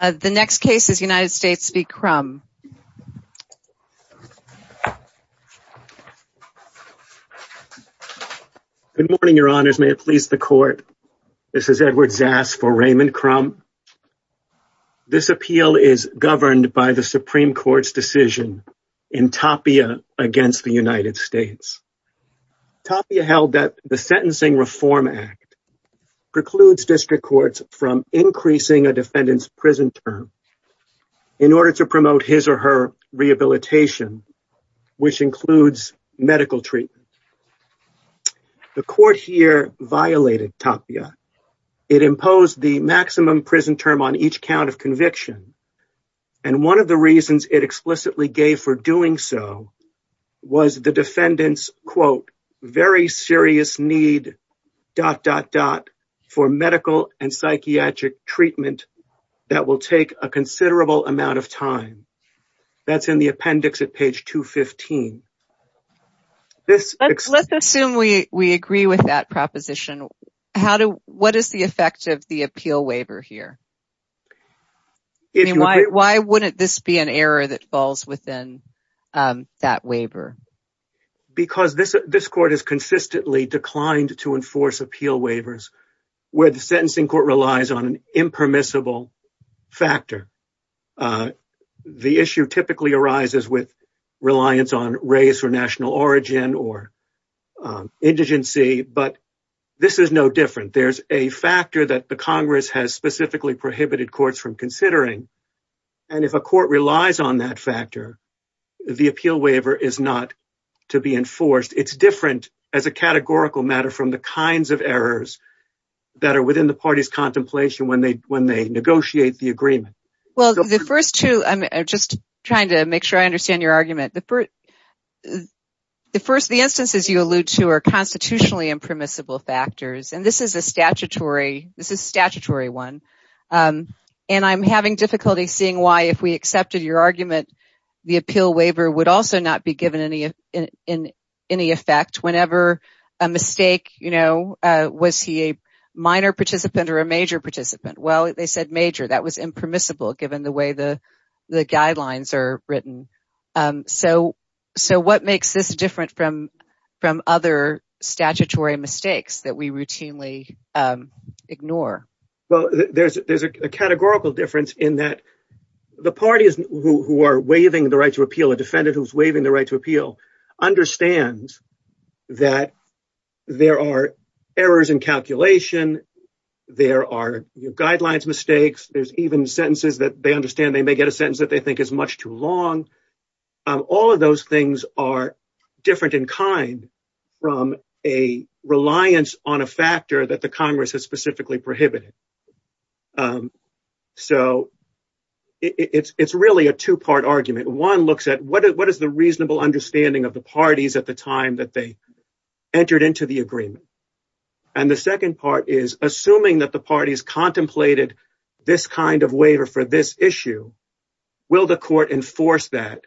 Good morning, Your Honors. May it please the Court, this is Edward Zass for Raymond Crum. This appeal is governed by the Supreme Court's decision in Tapia against the United States. Tapia held that the Sentencing Reform Act precludes district courts from increasing a defendant's prison term in order to promote his or her rehabilitation, which includes medical treatment. The Court here violated Tapia. It imposed the maximum prison term on each count of conviction, and one of the reasons it explicitly gave for doing so was the defendant's, quote, very serious need, dot, dot, dot, for medical and psychiatric treatment that will take a considerable amount of time. That's in the appendix at page 215. Let's assume we agree with that proposition. What is the effect of the appeal waiver here? Why wouldn't this be an error that falls within that waiver? Because this Court has consistently declined to enforce appeal waivers where the sentencing court relies on an impermissible factor. The issue typically arises with reliance on race or national origin or indigency, but this is no different. There's a factor that the Court prohibits courts from considering, and if a court relies on that factor, the appeal waiver is not to be enforced. It's different, as a categorical matter, from the kinds of errors that are within the parties' contemplation when they negotiate the agreement. I'm just trying to make sure I understand your argument. The instances you allude to are constitutionally impermissible factors, and this is a statutory one. I'm having difficulty seeing why, if we accepted your argument, the appeal waiver would also not be given any effect. Whenever a mistake, was he a minor participant or a major participant? Well, they said major. That was impermissible, given the way the guidelines are written. What makes this different from other statutory mistakes that we routinely ignore? There's a categorical difference in that the parties who are waiving the right to appeal, a defendant who's waiving the right to appeal, understands that there are errors in calculation, there are guidelines mistakes, there's even sentences that they understand they may get a sentence that they different in kind from a reliance on a factor that the Congress has specifically prohibited. It's really a two-part argument. One looks at what is the reasonable understanding of the parties at the time that they entered into the agreement? The second part is, assuming that the parties contemplated this kind of waiver for this issue, will the court enforce that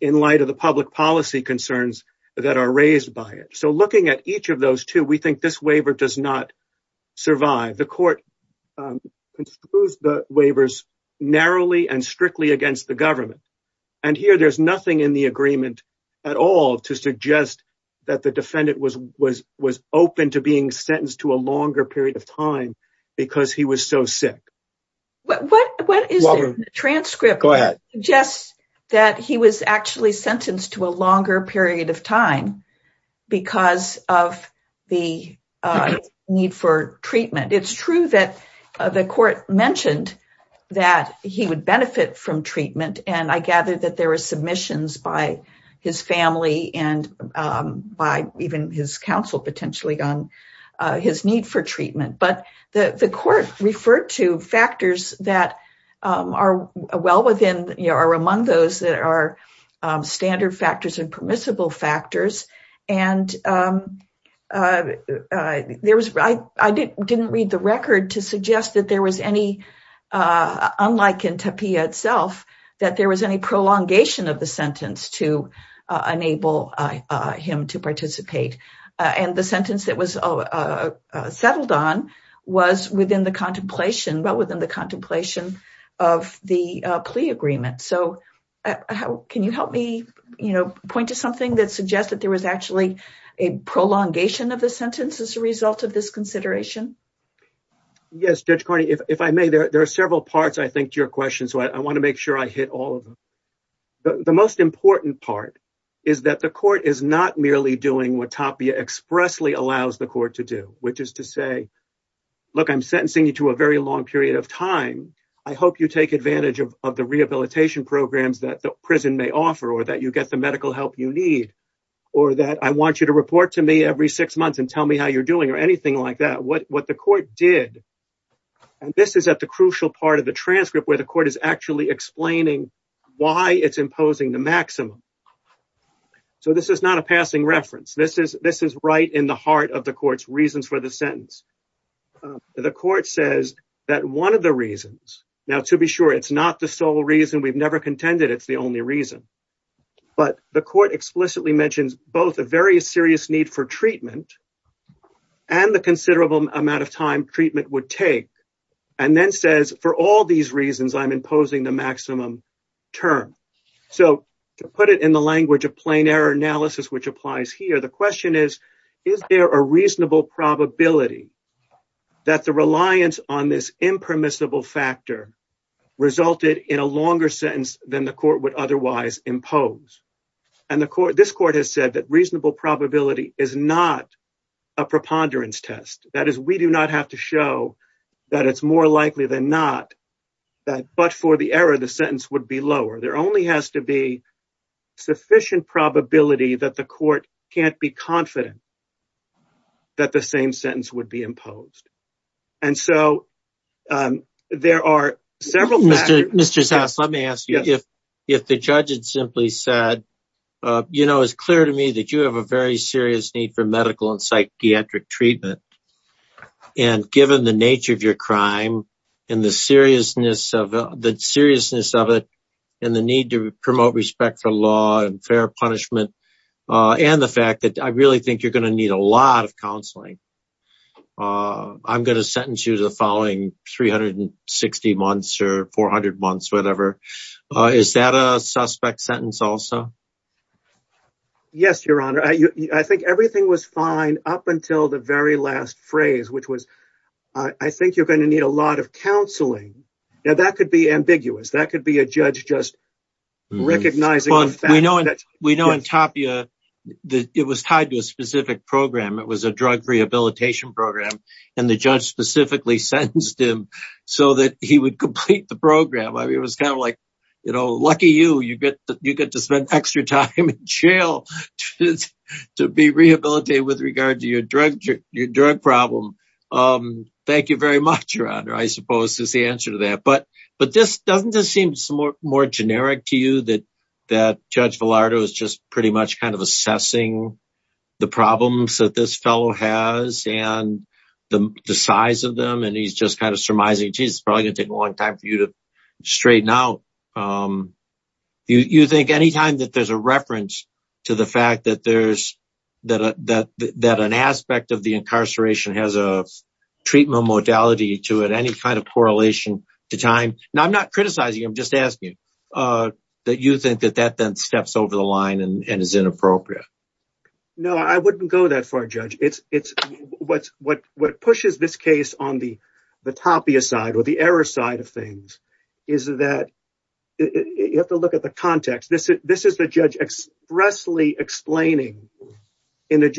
in light of the public policy concerns that are raised by it? Looking at each of those two, we think this waiver does not survive. The court approves the waivers narrowly and strictly against the government. Here, there's nothing in the agreement at all to suggest that the defendant was open to being sentenced to a longer period of time because he was so sick. What is the transcript that suggests that he was actually sentenced to a longer period of time because of the need for treatment? It's true that the court mentioned that he would benefit from treatment, and I gather that there were submissions by his family and by even his counsel potentially on his need for treatment. But the court referred to factors that are among those that are standard factors and permissible factors. I didn't read the record to suggest that there was any, unlike in Tapia itself, that there was any prolongation of the sentence that would enable him to participate. And the sentence that was settled on was within the contemplation of the plea agreement. So can you help me point to something that suggests that there was actually a prolongation of the sentence as a result of this consideration? Yes, Judge Carney, if I may, there are several parts, I think, to your question, so I want to make sure I hit all of them. The most important part is that the court is not merely doing what Tapia expressly allows the court to do, which is to say, look, I'm sentencing you to a very long period of time. I hope you take advantage of the rehabilitation programs that the prison may offer or that you get the medical help you need or that I want you to report to me every six months and tell me how you're doing or anything like that. What the court did, and this is at the crucial part of the transcript, where the court is actually explaining why it's imposing the maximum. So this is not a passing reference. This is right in the heart of the court's reasons for the sentence. The court says that one of the reasons, now to be sure it's not the sole reason, we've never contended it's the only reason, but the court explicitly mentions both a very serious need for all these reasons I'm imposing the maximum term. So to put it in the language of plain error analysis, which applies here, the question is, is there a reasonable probability that the reliance on this impermissible factor resulted in a longer sentence than the court would otherwise impose? This court has said that reasonable probability is not a preponderance test. That is, we do not have to show that it's more likely than not that, but for the error, the sentence would be lower. There only has to be sufficient probability that the court can't be confident that the same sentence would be imposed. And so there are several... Mr. Sasse, let me ask you, if the judge had simply said, you know, it's clear to me that you have a very serious need for medical and psychiatric treatment, and given the nature of your crime and the seriousness of it, and the need to promote respect for law and fair punishment, and the fact that I really think you're going to need a lot of counseling, I'm going to sentence you to the following 360 months or 400 months, whatever. Is that a suspect sentence also? Yes, your honor. I think everything was fine up until the very last phrase, which was, I think you're going to need a lot of counseling. Now, that could be ambiguous. That could be a judge just recognizing the fact that... We know in Tapia, it was tied to a specific program. It was a drug rehabilitation program, and the judge specifically sentenced him so that he would complete the program. I mean, it was kind of like, you know, lucky you, you get to spend extra time in jail to be rehabilitated with regard to your drug problem. Thank you very much, your honor, I suppose, is the answer to that. But doesn't this seem more generic to you that Judge Velardo is just pretty much kind of assessing the problems that this fellow has and the size of them, and he's just kind of surmising, geez, it's probably going to take a long time for you to straighten out. You think anytime that there's a reference to the fact that an aspect of the incarceration has a treatment modality to it, any kind of correlation to time... Now, I'm not criticizing him, I'm just asking that you think that that then steps over the line and is inappropriate. No, I wouldn't go that far, Judge. What pushes this case on the Tapia side or the error of things is that you have to look at the context. This is the judge expressly explaining, and the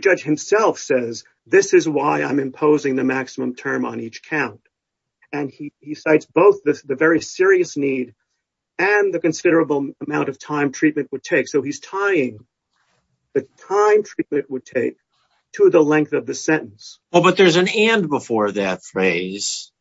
judge himself says, this is why I'm imposing the maximum term on each count. And he cites both the very serious need and the considerable amount of time treatment would take. So he's tying the time treatment would take to the length of the sentence. But there's an and before that phrase.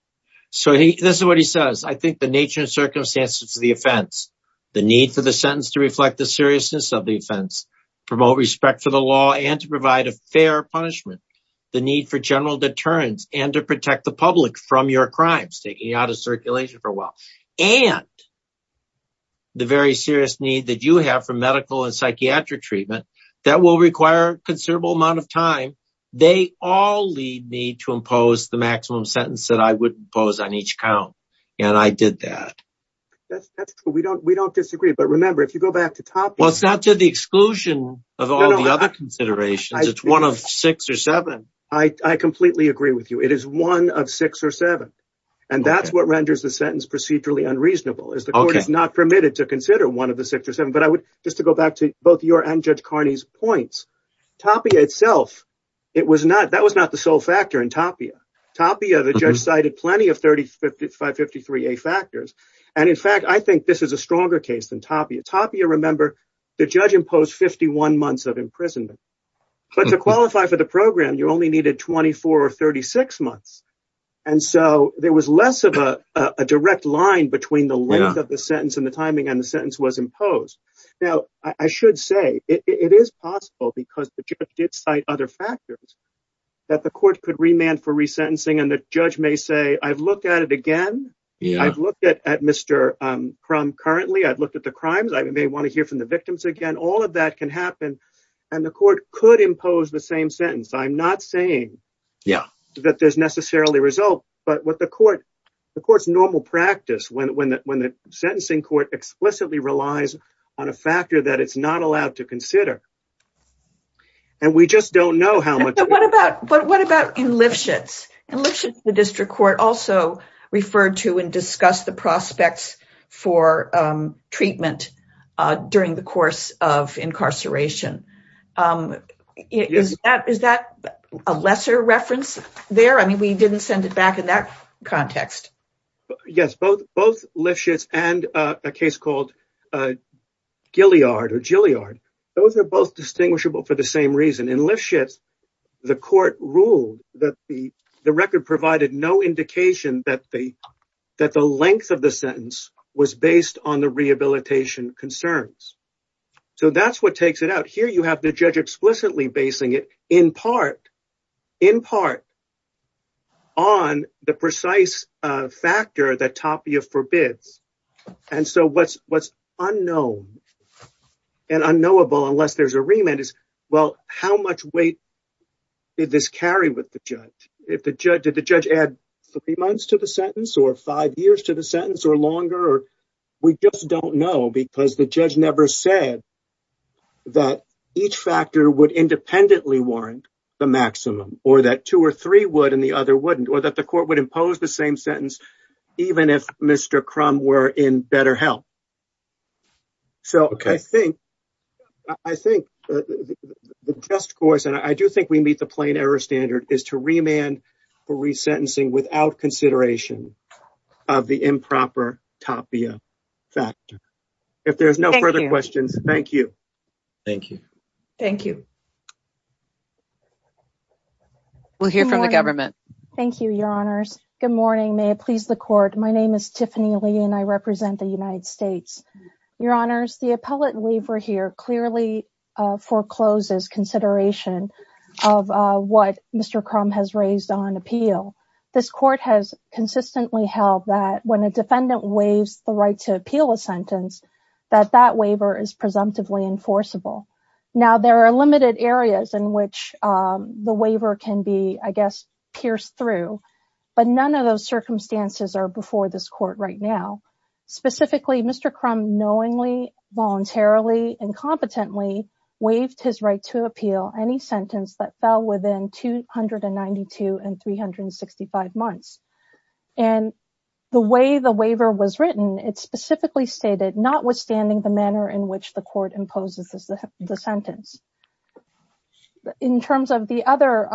So this is what he says. I think the nature and circumstances of the offense, the need for the sentence to reflect the seriousness of the offense, promote respect for the law and to provide a fair punishment, the need for general deterrence and to protect the public from your crimes taking out of circulation for a while, and the very serious need that you have for medical and psychiatric treatment that will require considerable amount of time. They all lead me to impose the maximum sentence that I would impose on each count. And I did that. That's that's true. We don't we don't disagree. But remember, if you go back to top, well, it's not to the exclusion of all the other considerations. It's one of six or seven. I completely agree with you. It is one of six or seven. And that's what renders the sentence procedurally unreasonable is the court is not permitted to consider one of the six or seven. But I would just to go back to both your and Judge Carney's points, Tapia itself, it was not that was not the sole factor in Tapia. Tapia, the judge cited plenty of 30, 55, 53 factors. And in fact, I think this is a stronger case than Tapia. Tapia, remember, the judge imposed 51 months of imprisonment. But to qualify for the program, you only needed 24 or 36 months. And so there was less of a direct line between the length of the sentence and the timing and the sentence was imposed. Now, I should say it is possible because the judge did cite other factors that the court could remand for resentencing. And the judge may say, I've looked at it again. I've looked at Mr. Crumb currently. I've looked at the crimes. I may want to hear from the victims again. All of that can happen. And the court could impose the same sentence. I'm not saying, yeah, that there's necessarily a result. But what the court, the court's normal practice, when the sentencing court explicitly relies on a factor that it's not allowed to consider. And we just don't know how much. But what about in Lipschitz? In Lipschitz, the district court also referred to and discussed the prospects for treatment during the course of incarceration. Is that a lesser reference there? I mean, we didn't send it back in that context. Yes, both Lipschitz and a case called Gileard, those are both distinguishable for the same reason. In Lipschitz, the court ruled that the record provided no indication that the length of the sentence was based on the rehabilitation concerns. So that's what factor that TAPIA forbids. And so what's unknown and unknowable unless there's a remand is, well, how much weight did this carry with the judge? Did the judge add three months to the sentence or five years to the sentence or longer? We just don't know because the judge never said that each factor would independently warrant the maximum or that two or three would and the other wouldn't or that the court would impose the same sentence even if Mr. Crum were in better health. So I think the best course, and I do think we meet the plain error standard, is to remand for resentencing without consideration of the improper TAPIA factor. If there's no further questions, thank you. Thank you. Thank you. We'll hear from the government. Thank you, Your Honors. Good morning. May it please the court. My name is Tiffany Lee, and I represent the United States. Your Honors, the appellate waiver here clearly forecloses consideration of what Mr. Crum has raised on appeal. This court has consistently held that when a defendant waives the right to appeal a sentence, that that waiver is presumptively enforceable. Now, there are limited areas in which the waiver can be, I guess, pierced through, but none of those circumstances are before this court right now. Specifically, Mr. Crum knowingly, voluntarily, and competently waived his right to appeal any sentence that fell within 292 and 365 months. And the way the waiver was written, it specifically stated, notwithstanding the manner in which the court imposes the sentence. In terms of the other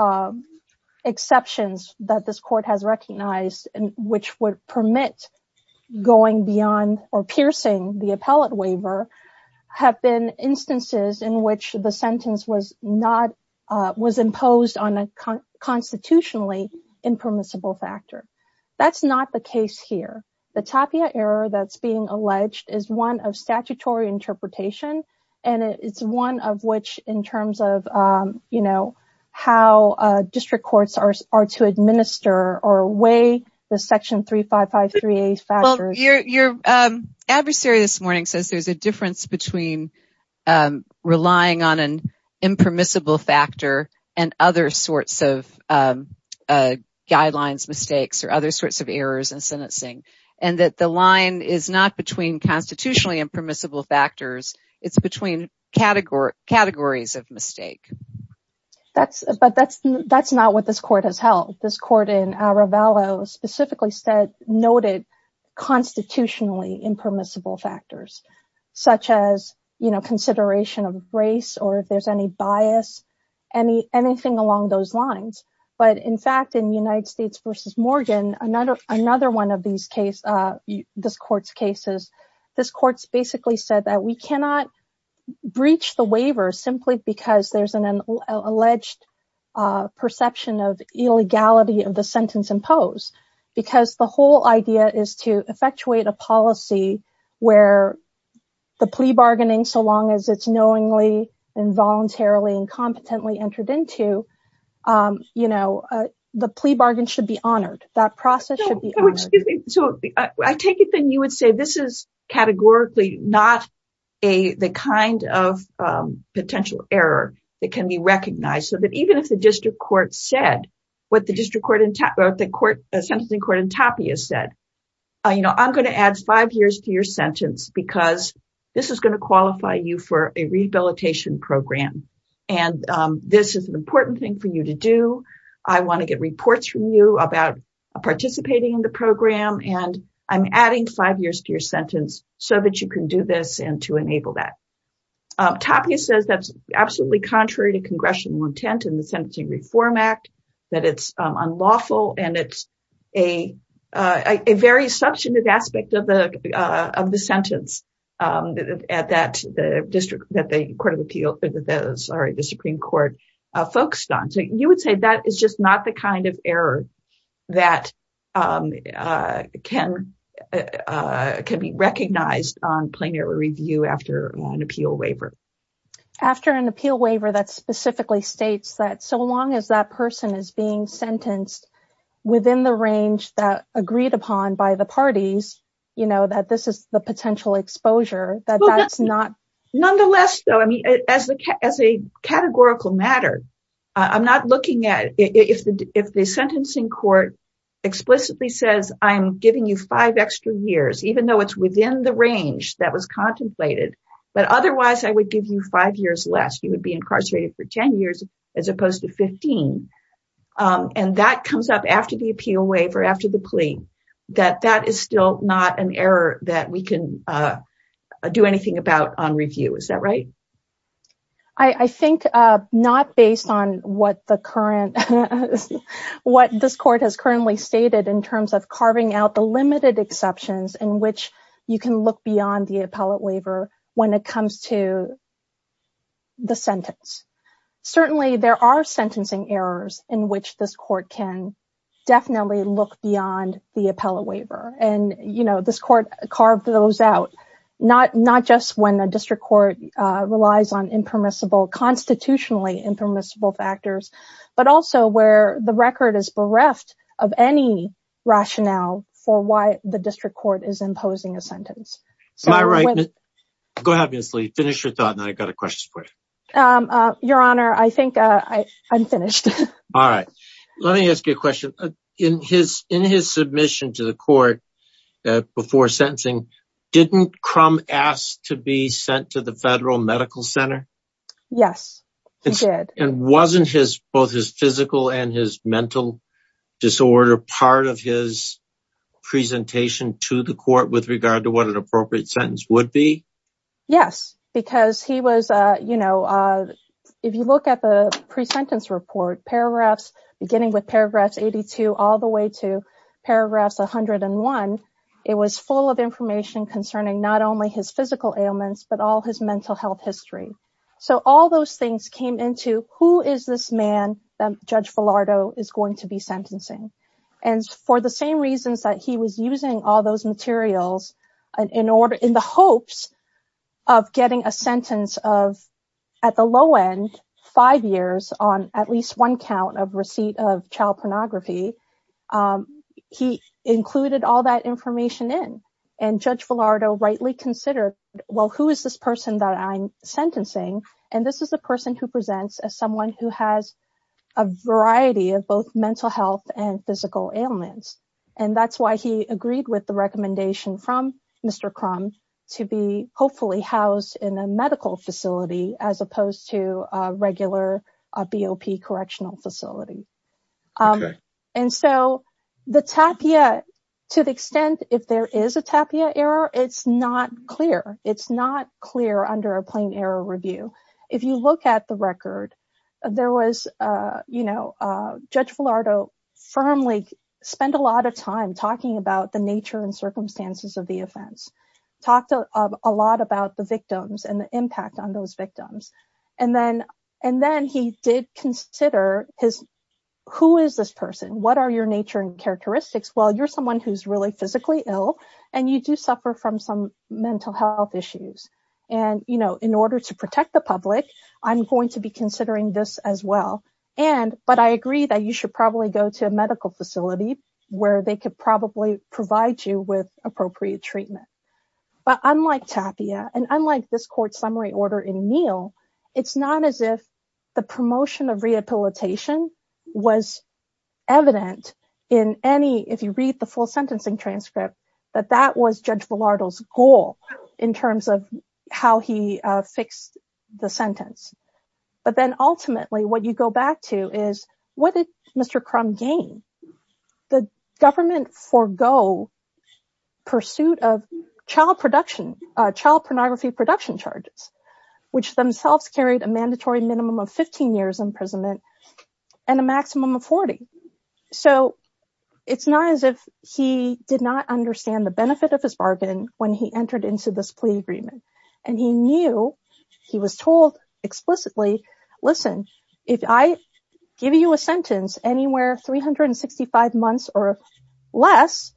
exceptions that this court has recognized, which would permit going beyond or piercing the appellate waiver, have been instances in which the sentence was imposed on a constitutionally impermissible factor. That's not the case here. The TAPIA error that's being alleged is one of statutory interpretation, and it's one of which, in terms of how district courts are to administer or weigh the Section 355-3A factors. Your adversary this morning says there's a difference between relying on an impermissible factor and other sorts of guidelines, mistakes, or other sorts of errors in sentencing, and that the line is not between constitutionally impermissible factors, it's between categories of mistake. That's not what this court has held. This court in Aravalo specifically noted constitutionally impermissible factors, such as consideration of race or if there's any bias, anything along those lines. But, in fact, in United States v. Morgan, another one of this court's cases, this court basically said that we cannot breach the waiver simply because there's an alleged perception of illegality of the sentence imposed, because the whole idea is to effectuate a policy where the plea bargaining, so long as it's knowingly, involuntarily, and competently entered into, the plea bargain should be honored. That process should be honored. So, I take it then you would say this is categorically not the kind of potential error that can be recognized, so that even if the district court said what the sentencing court in TAPIA said, you know, I'm going to add five years to your sentence because this is going to qualify you for a rehabilitation program, and this is an important thing for you to do. I want to get reports from you about participating in the program, and I'm adding five years to your sentence so that you can do this and to enable that. TAPIA says that's absolutely contrary to congressional intent in the Sentencing Reform Act, that it's unlawful, and it's a very substantive aspect of the sentence that the Supreme Court focused on. So, you would say that is just not the kind of error that can be recognized on plenary review after an appeal waiver. After an appeal waiver that specifically states that so long as that person is being sentenced within the range that agreed upon by the parties, you know, that this is the potential exposure, that's not... Nonetheless, though, I mean, as a categorical matter, I'm not looking at if the sentencing court explicitly says I'm giving you five extra years, even though it's within the range that was contemplated, but otherwise, I would give you five years less. You would be incarcerated for 10 years as opposed to 15, and that comes up after the appeal waiver, after the plea, that that is still not an error that we can do anything about on review. Is that right? I think not based on what the current... what this court has currently stated in terms of carving out the limited exceptions in which you can look beyond the appellate waiver when it comes to the sentence. Certainly, there are sentencing errors in which this court can definitely look beyond the appellate waiver. And, you know, this court carved those out, not just when the district court relies on impermissible, constitutionally impermissible factors, but also where the record is bereft of any rationale for why the district court is imposing a sentence. Am I right? Go ahead, Miss Lee, finish your thought, and I got a question for you. Your Honor, I think I'm finished. All right. Let me ask you a question. In his submission to the court before sentencing, didn't Crum ask to be sent to the federal medical center? Yes, he did. And wasn't both his physical and his mental disorder part of his presentation to the court with regard to what an appropriate sentence would be? Yes, because he was, you know, if you look at the pre-sentence report, beginning with paragraphs 82 all the way to paragraphs 101, it was full of information concerning not only his physical ailments, but all his mental health history. So all those things came into who is this man that Judge Villardo is going to be sentencing. And for the same reasons that he was using all those materials in order, in the hopes of getting a sentence of, at the low end, five years on at least one count of receipt of child pornography, he included all that information in. And Judge Villardo rightly considered, well, who is this person that I'm sentencing? And this is a person who presents as someone who has a variety of both mental health and physical ailments. And that's why he agreed with the recommendation from Mr. Crum to be hopefully housed in a medical facility as opposed to a regular BOP correctional facility. And so the TAPIA, to the extent if there is a TAPIA error, it's not clear. It's not clear under a plain error review. If you look at the record, there was, you know, Judge Villardo firmly spent a lot of time talking about the nature and circumstances of the offense, talked a lot about the victims and the impact on those victims. And then he did consider his, who is this person? What are your nature and characteristics? Well, you're someone who's really physically ill and you do suffer from some mental health issues. And, you know, in order to protect the public, I'm going to be considering this as well. And, but I agree that you should probably go to a medical facility where they could probably provide you with appropriate treatment. But unlike TAPIA and unlike this court summary order in Neal, it's not as if the promotion of rehabilitation was evident in any, if you read the full sentencing transcript, that that was Judge Villardo's goal in terms of how he fixed the sentence. But then ultimately, what you go back to is what did Mr. Crum gain? The government forego pursuit of child production, child pornography production charges, which themselves carried a mandatory minimum of 15 years imprisonment and a maximum of 40. So it's not as if he did not understand the benefit of his bargain when he entered into this plea agreement. And he knew, he was told explicitly, listen, if I give you a sentence anywhere 365 months or less,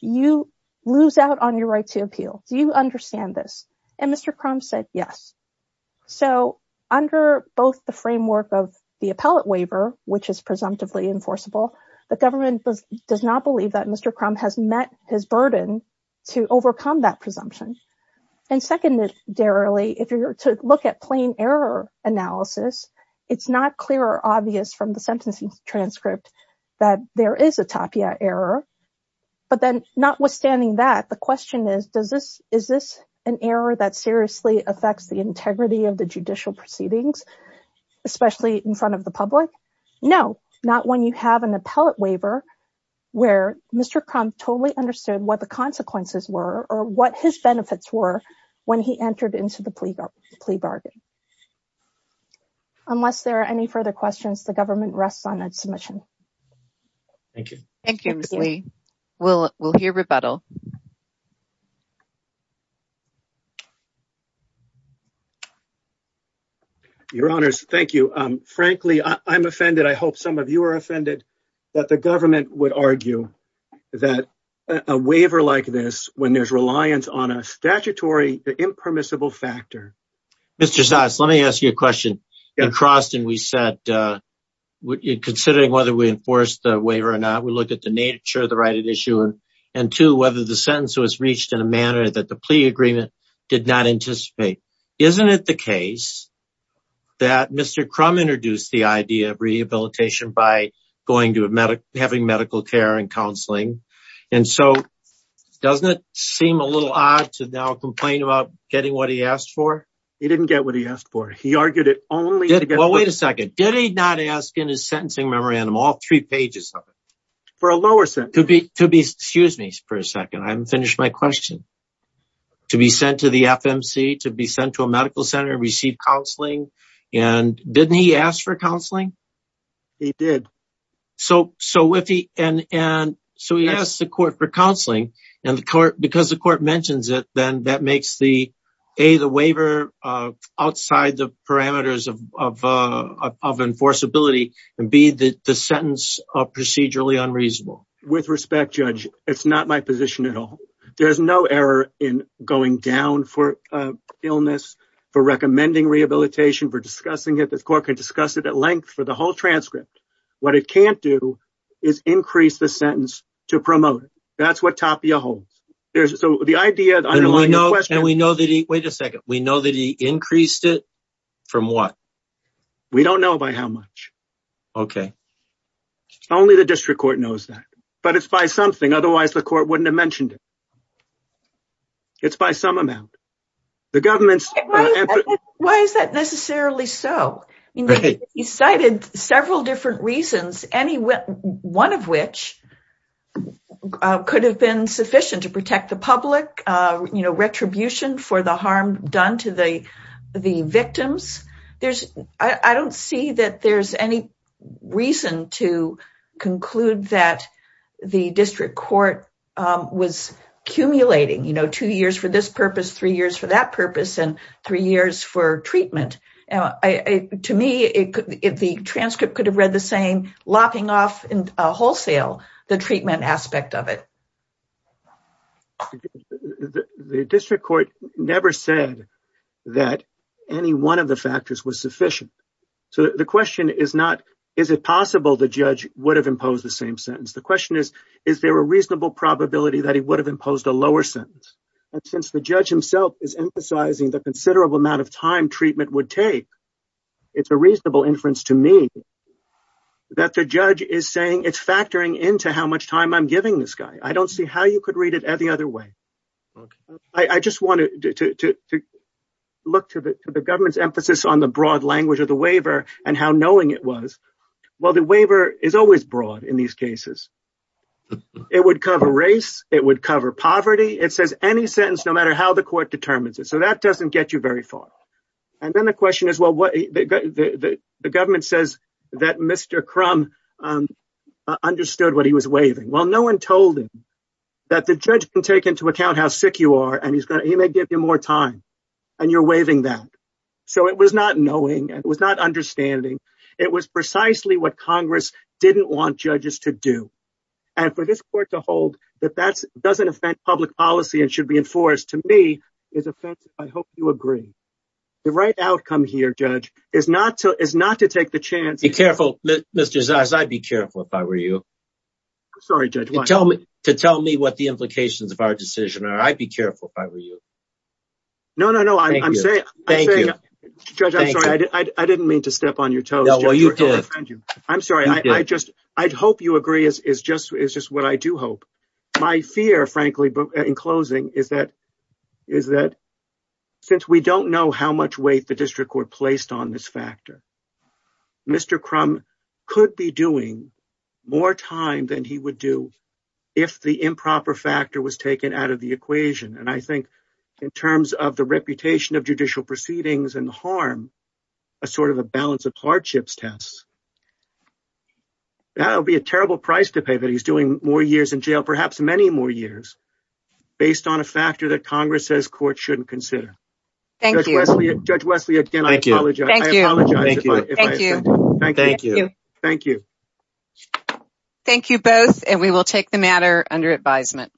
you lose out on your right to understand this. And Mr. Crum said, yes. So under both the framework of the appellate waiver, which is presumptively enforceable, the government does not believe that Mr. Crum has met his burden to overcome that presumption. And secondarily, if you're to look at plain error analysis, it's not clear or obvious from the sentencing transcript that there is a TAPIA error. But then notwithstanding that, the question is, is this an error that seriously affects the integrity of the judicial proceedings, especially in front of the public? No, not when you have an appellate waiver where Mr. Crum totally understood what the consequences were or what his benefits were when he entered into the plea bargain. Unless there are any further questions, the government rests on its submission. Thank you. Thank you, Ms. Lee. We'll hear rebuttal. Your honors, thank you. Frankly, I'm offended. I hope some of you are offended that the government would argue that a waiver like this, when there's reliance on a statutory impermissible factor. Mr. Saas, let me ask you a question. In Croston, we said, considering whether we enforce the waiver or not, we look at the nature of the right of issue and two, whether the sentence was reached in a manner that the plea agreement did not anticipate. Isn't it the case that Mr. Crum introduced the idea of rehabilitation by going to a medical, having medical care and counseling? And so, doesn't it seem a little odd to now complain about getting what he asked for? He didn't get what he asked for. He argued it only to get... Well, wait a second. Did he not ask in his sentencing memorandum all three pages of it? For a lower sentence. Excuse me for a second. I haven't finished my question. To be sent to the FMC, to be sent to a medical center, receive counseling, and didn't he ask for counseling? He did. So, so if he, and so he asked the court for counseling and the court, because the court mentions it, then that makes the, A, the waiver outside the parameters of, of, of enforceability and B, the sentence of procedurally unreasonable. With respect, Judge, it's not my position at all. There's no error in going down for a illness, for recommending rehabilitation, for discussing it. The court can discuss it at length for the whole transcript. What it can't do is increase the sentence to promote it. That's what Tapia holds. There's, so the idea underlying the question... And we know that he, wait a second, we know that he increased it from what? We don't know by how much. Okay. Only the district court knows that, but it's by something, otherwise the court wouldn't have mentioned it. It's by some amount. The government's... Why is that necessarily so? He cited several different reasons, any one of which could have been sufficient to protect the public, you know, retribution for the harm done to the, the victims. There's, I don't see that there's any reason to conclude that the district court was accumulating, you know, two years for this purpose, three years for that purpose, and three years for treatment. To me, it could, if the transcript could have read the same, lopping off in a wholesale, the treatment aspect of it. The district court never said that any one of the factors was sufficient. So the question is not, is it possible the judge would have imposed the same sentence? The question is, is there a reasonable probability that he would have imposed a lower sentence? And since the judge himself is emphasizing the considerable amount of time treatment would take, it's a reasonable inference to me that the judge is saying it's factoring into how much time I'm going to get. I don't read it any other way. I just want to look to the government's emphasis on the broad language of the waiver and how knowing it was. Well, the waiver is always broad in these cases. It would cover race. It would cover poverty. It says any sentence, no matter how the court determines it. So that doesn't get you very far. And then the question is, well, the government says that Mr. Crum understood what he was waiving. Well, no one told him that the judge can take into account how sick you are and he may give you more time and you're waiving that. So it was not knowing and it was not understanding. It was precisely what Congress didn't want judges to do. And for this court to hold that that doesn't affect public policy and should be enforced to me is offensive. I hope you agree. The right outcome here, Judge, is not to take the chance. Be careful, Mr. Zais. I'd be careful if I were you. Sorry, Judge. To tell me what the implications of our decision are, I'd be careful if I were you. No, no, no. I'm saying, Judge, I'm sorry. I didn't mean to step on your toes. No, well, you did. I'm sorry. I just, I hope you agree is just what I do hope. My fear, frankly, in closing is that since we don't know how much weight the district court placed on this factor, Mr. Crum could be doing more time than he would do if the improper factor was taken out of the equation. And I think in terms of the reputation of judicial proceedings and the harm, a sort of a balance of hardships test, that'll be a terrible price to pay that he's doing more years in jail, perhaps many more years, based on a factor that Congress says courts shouldn't consider. Thank you. Judge Wesley, again, I apologize. Thank you. Thank you. Thank you. Thank you both. And we will take the matter under advisement.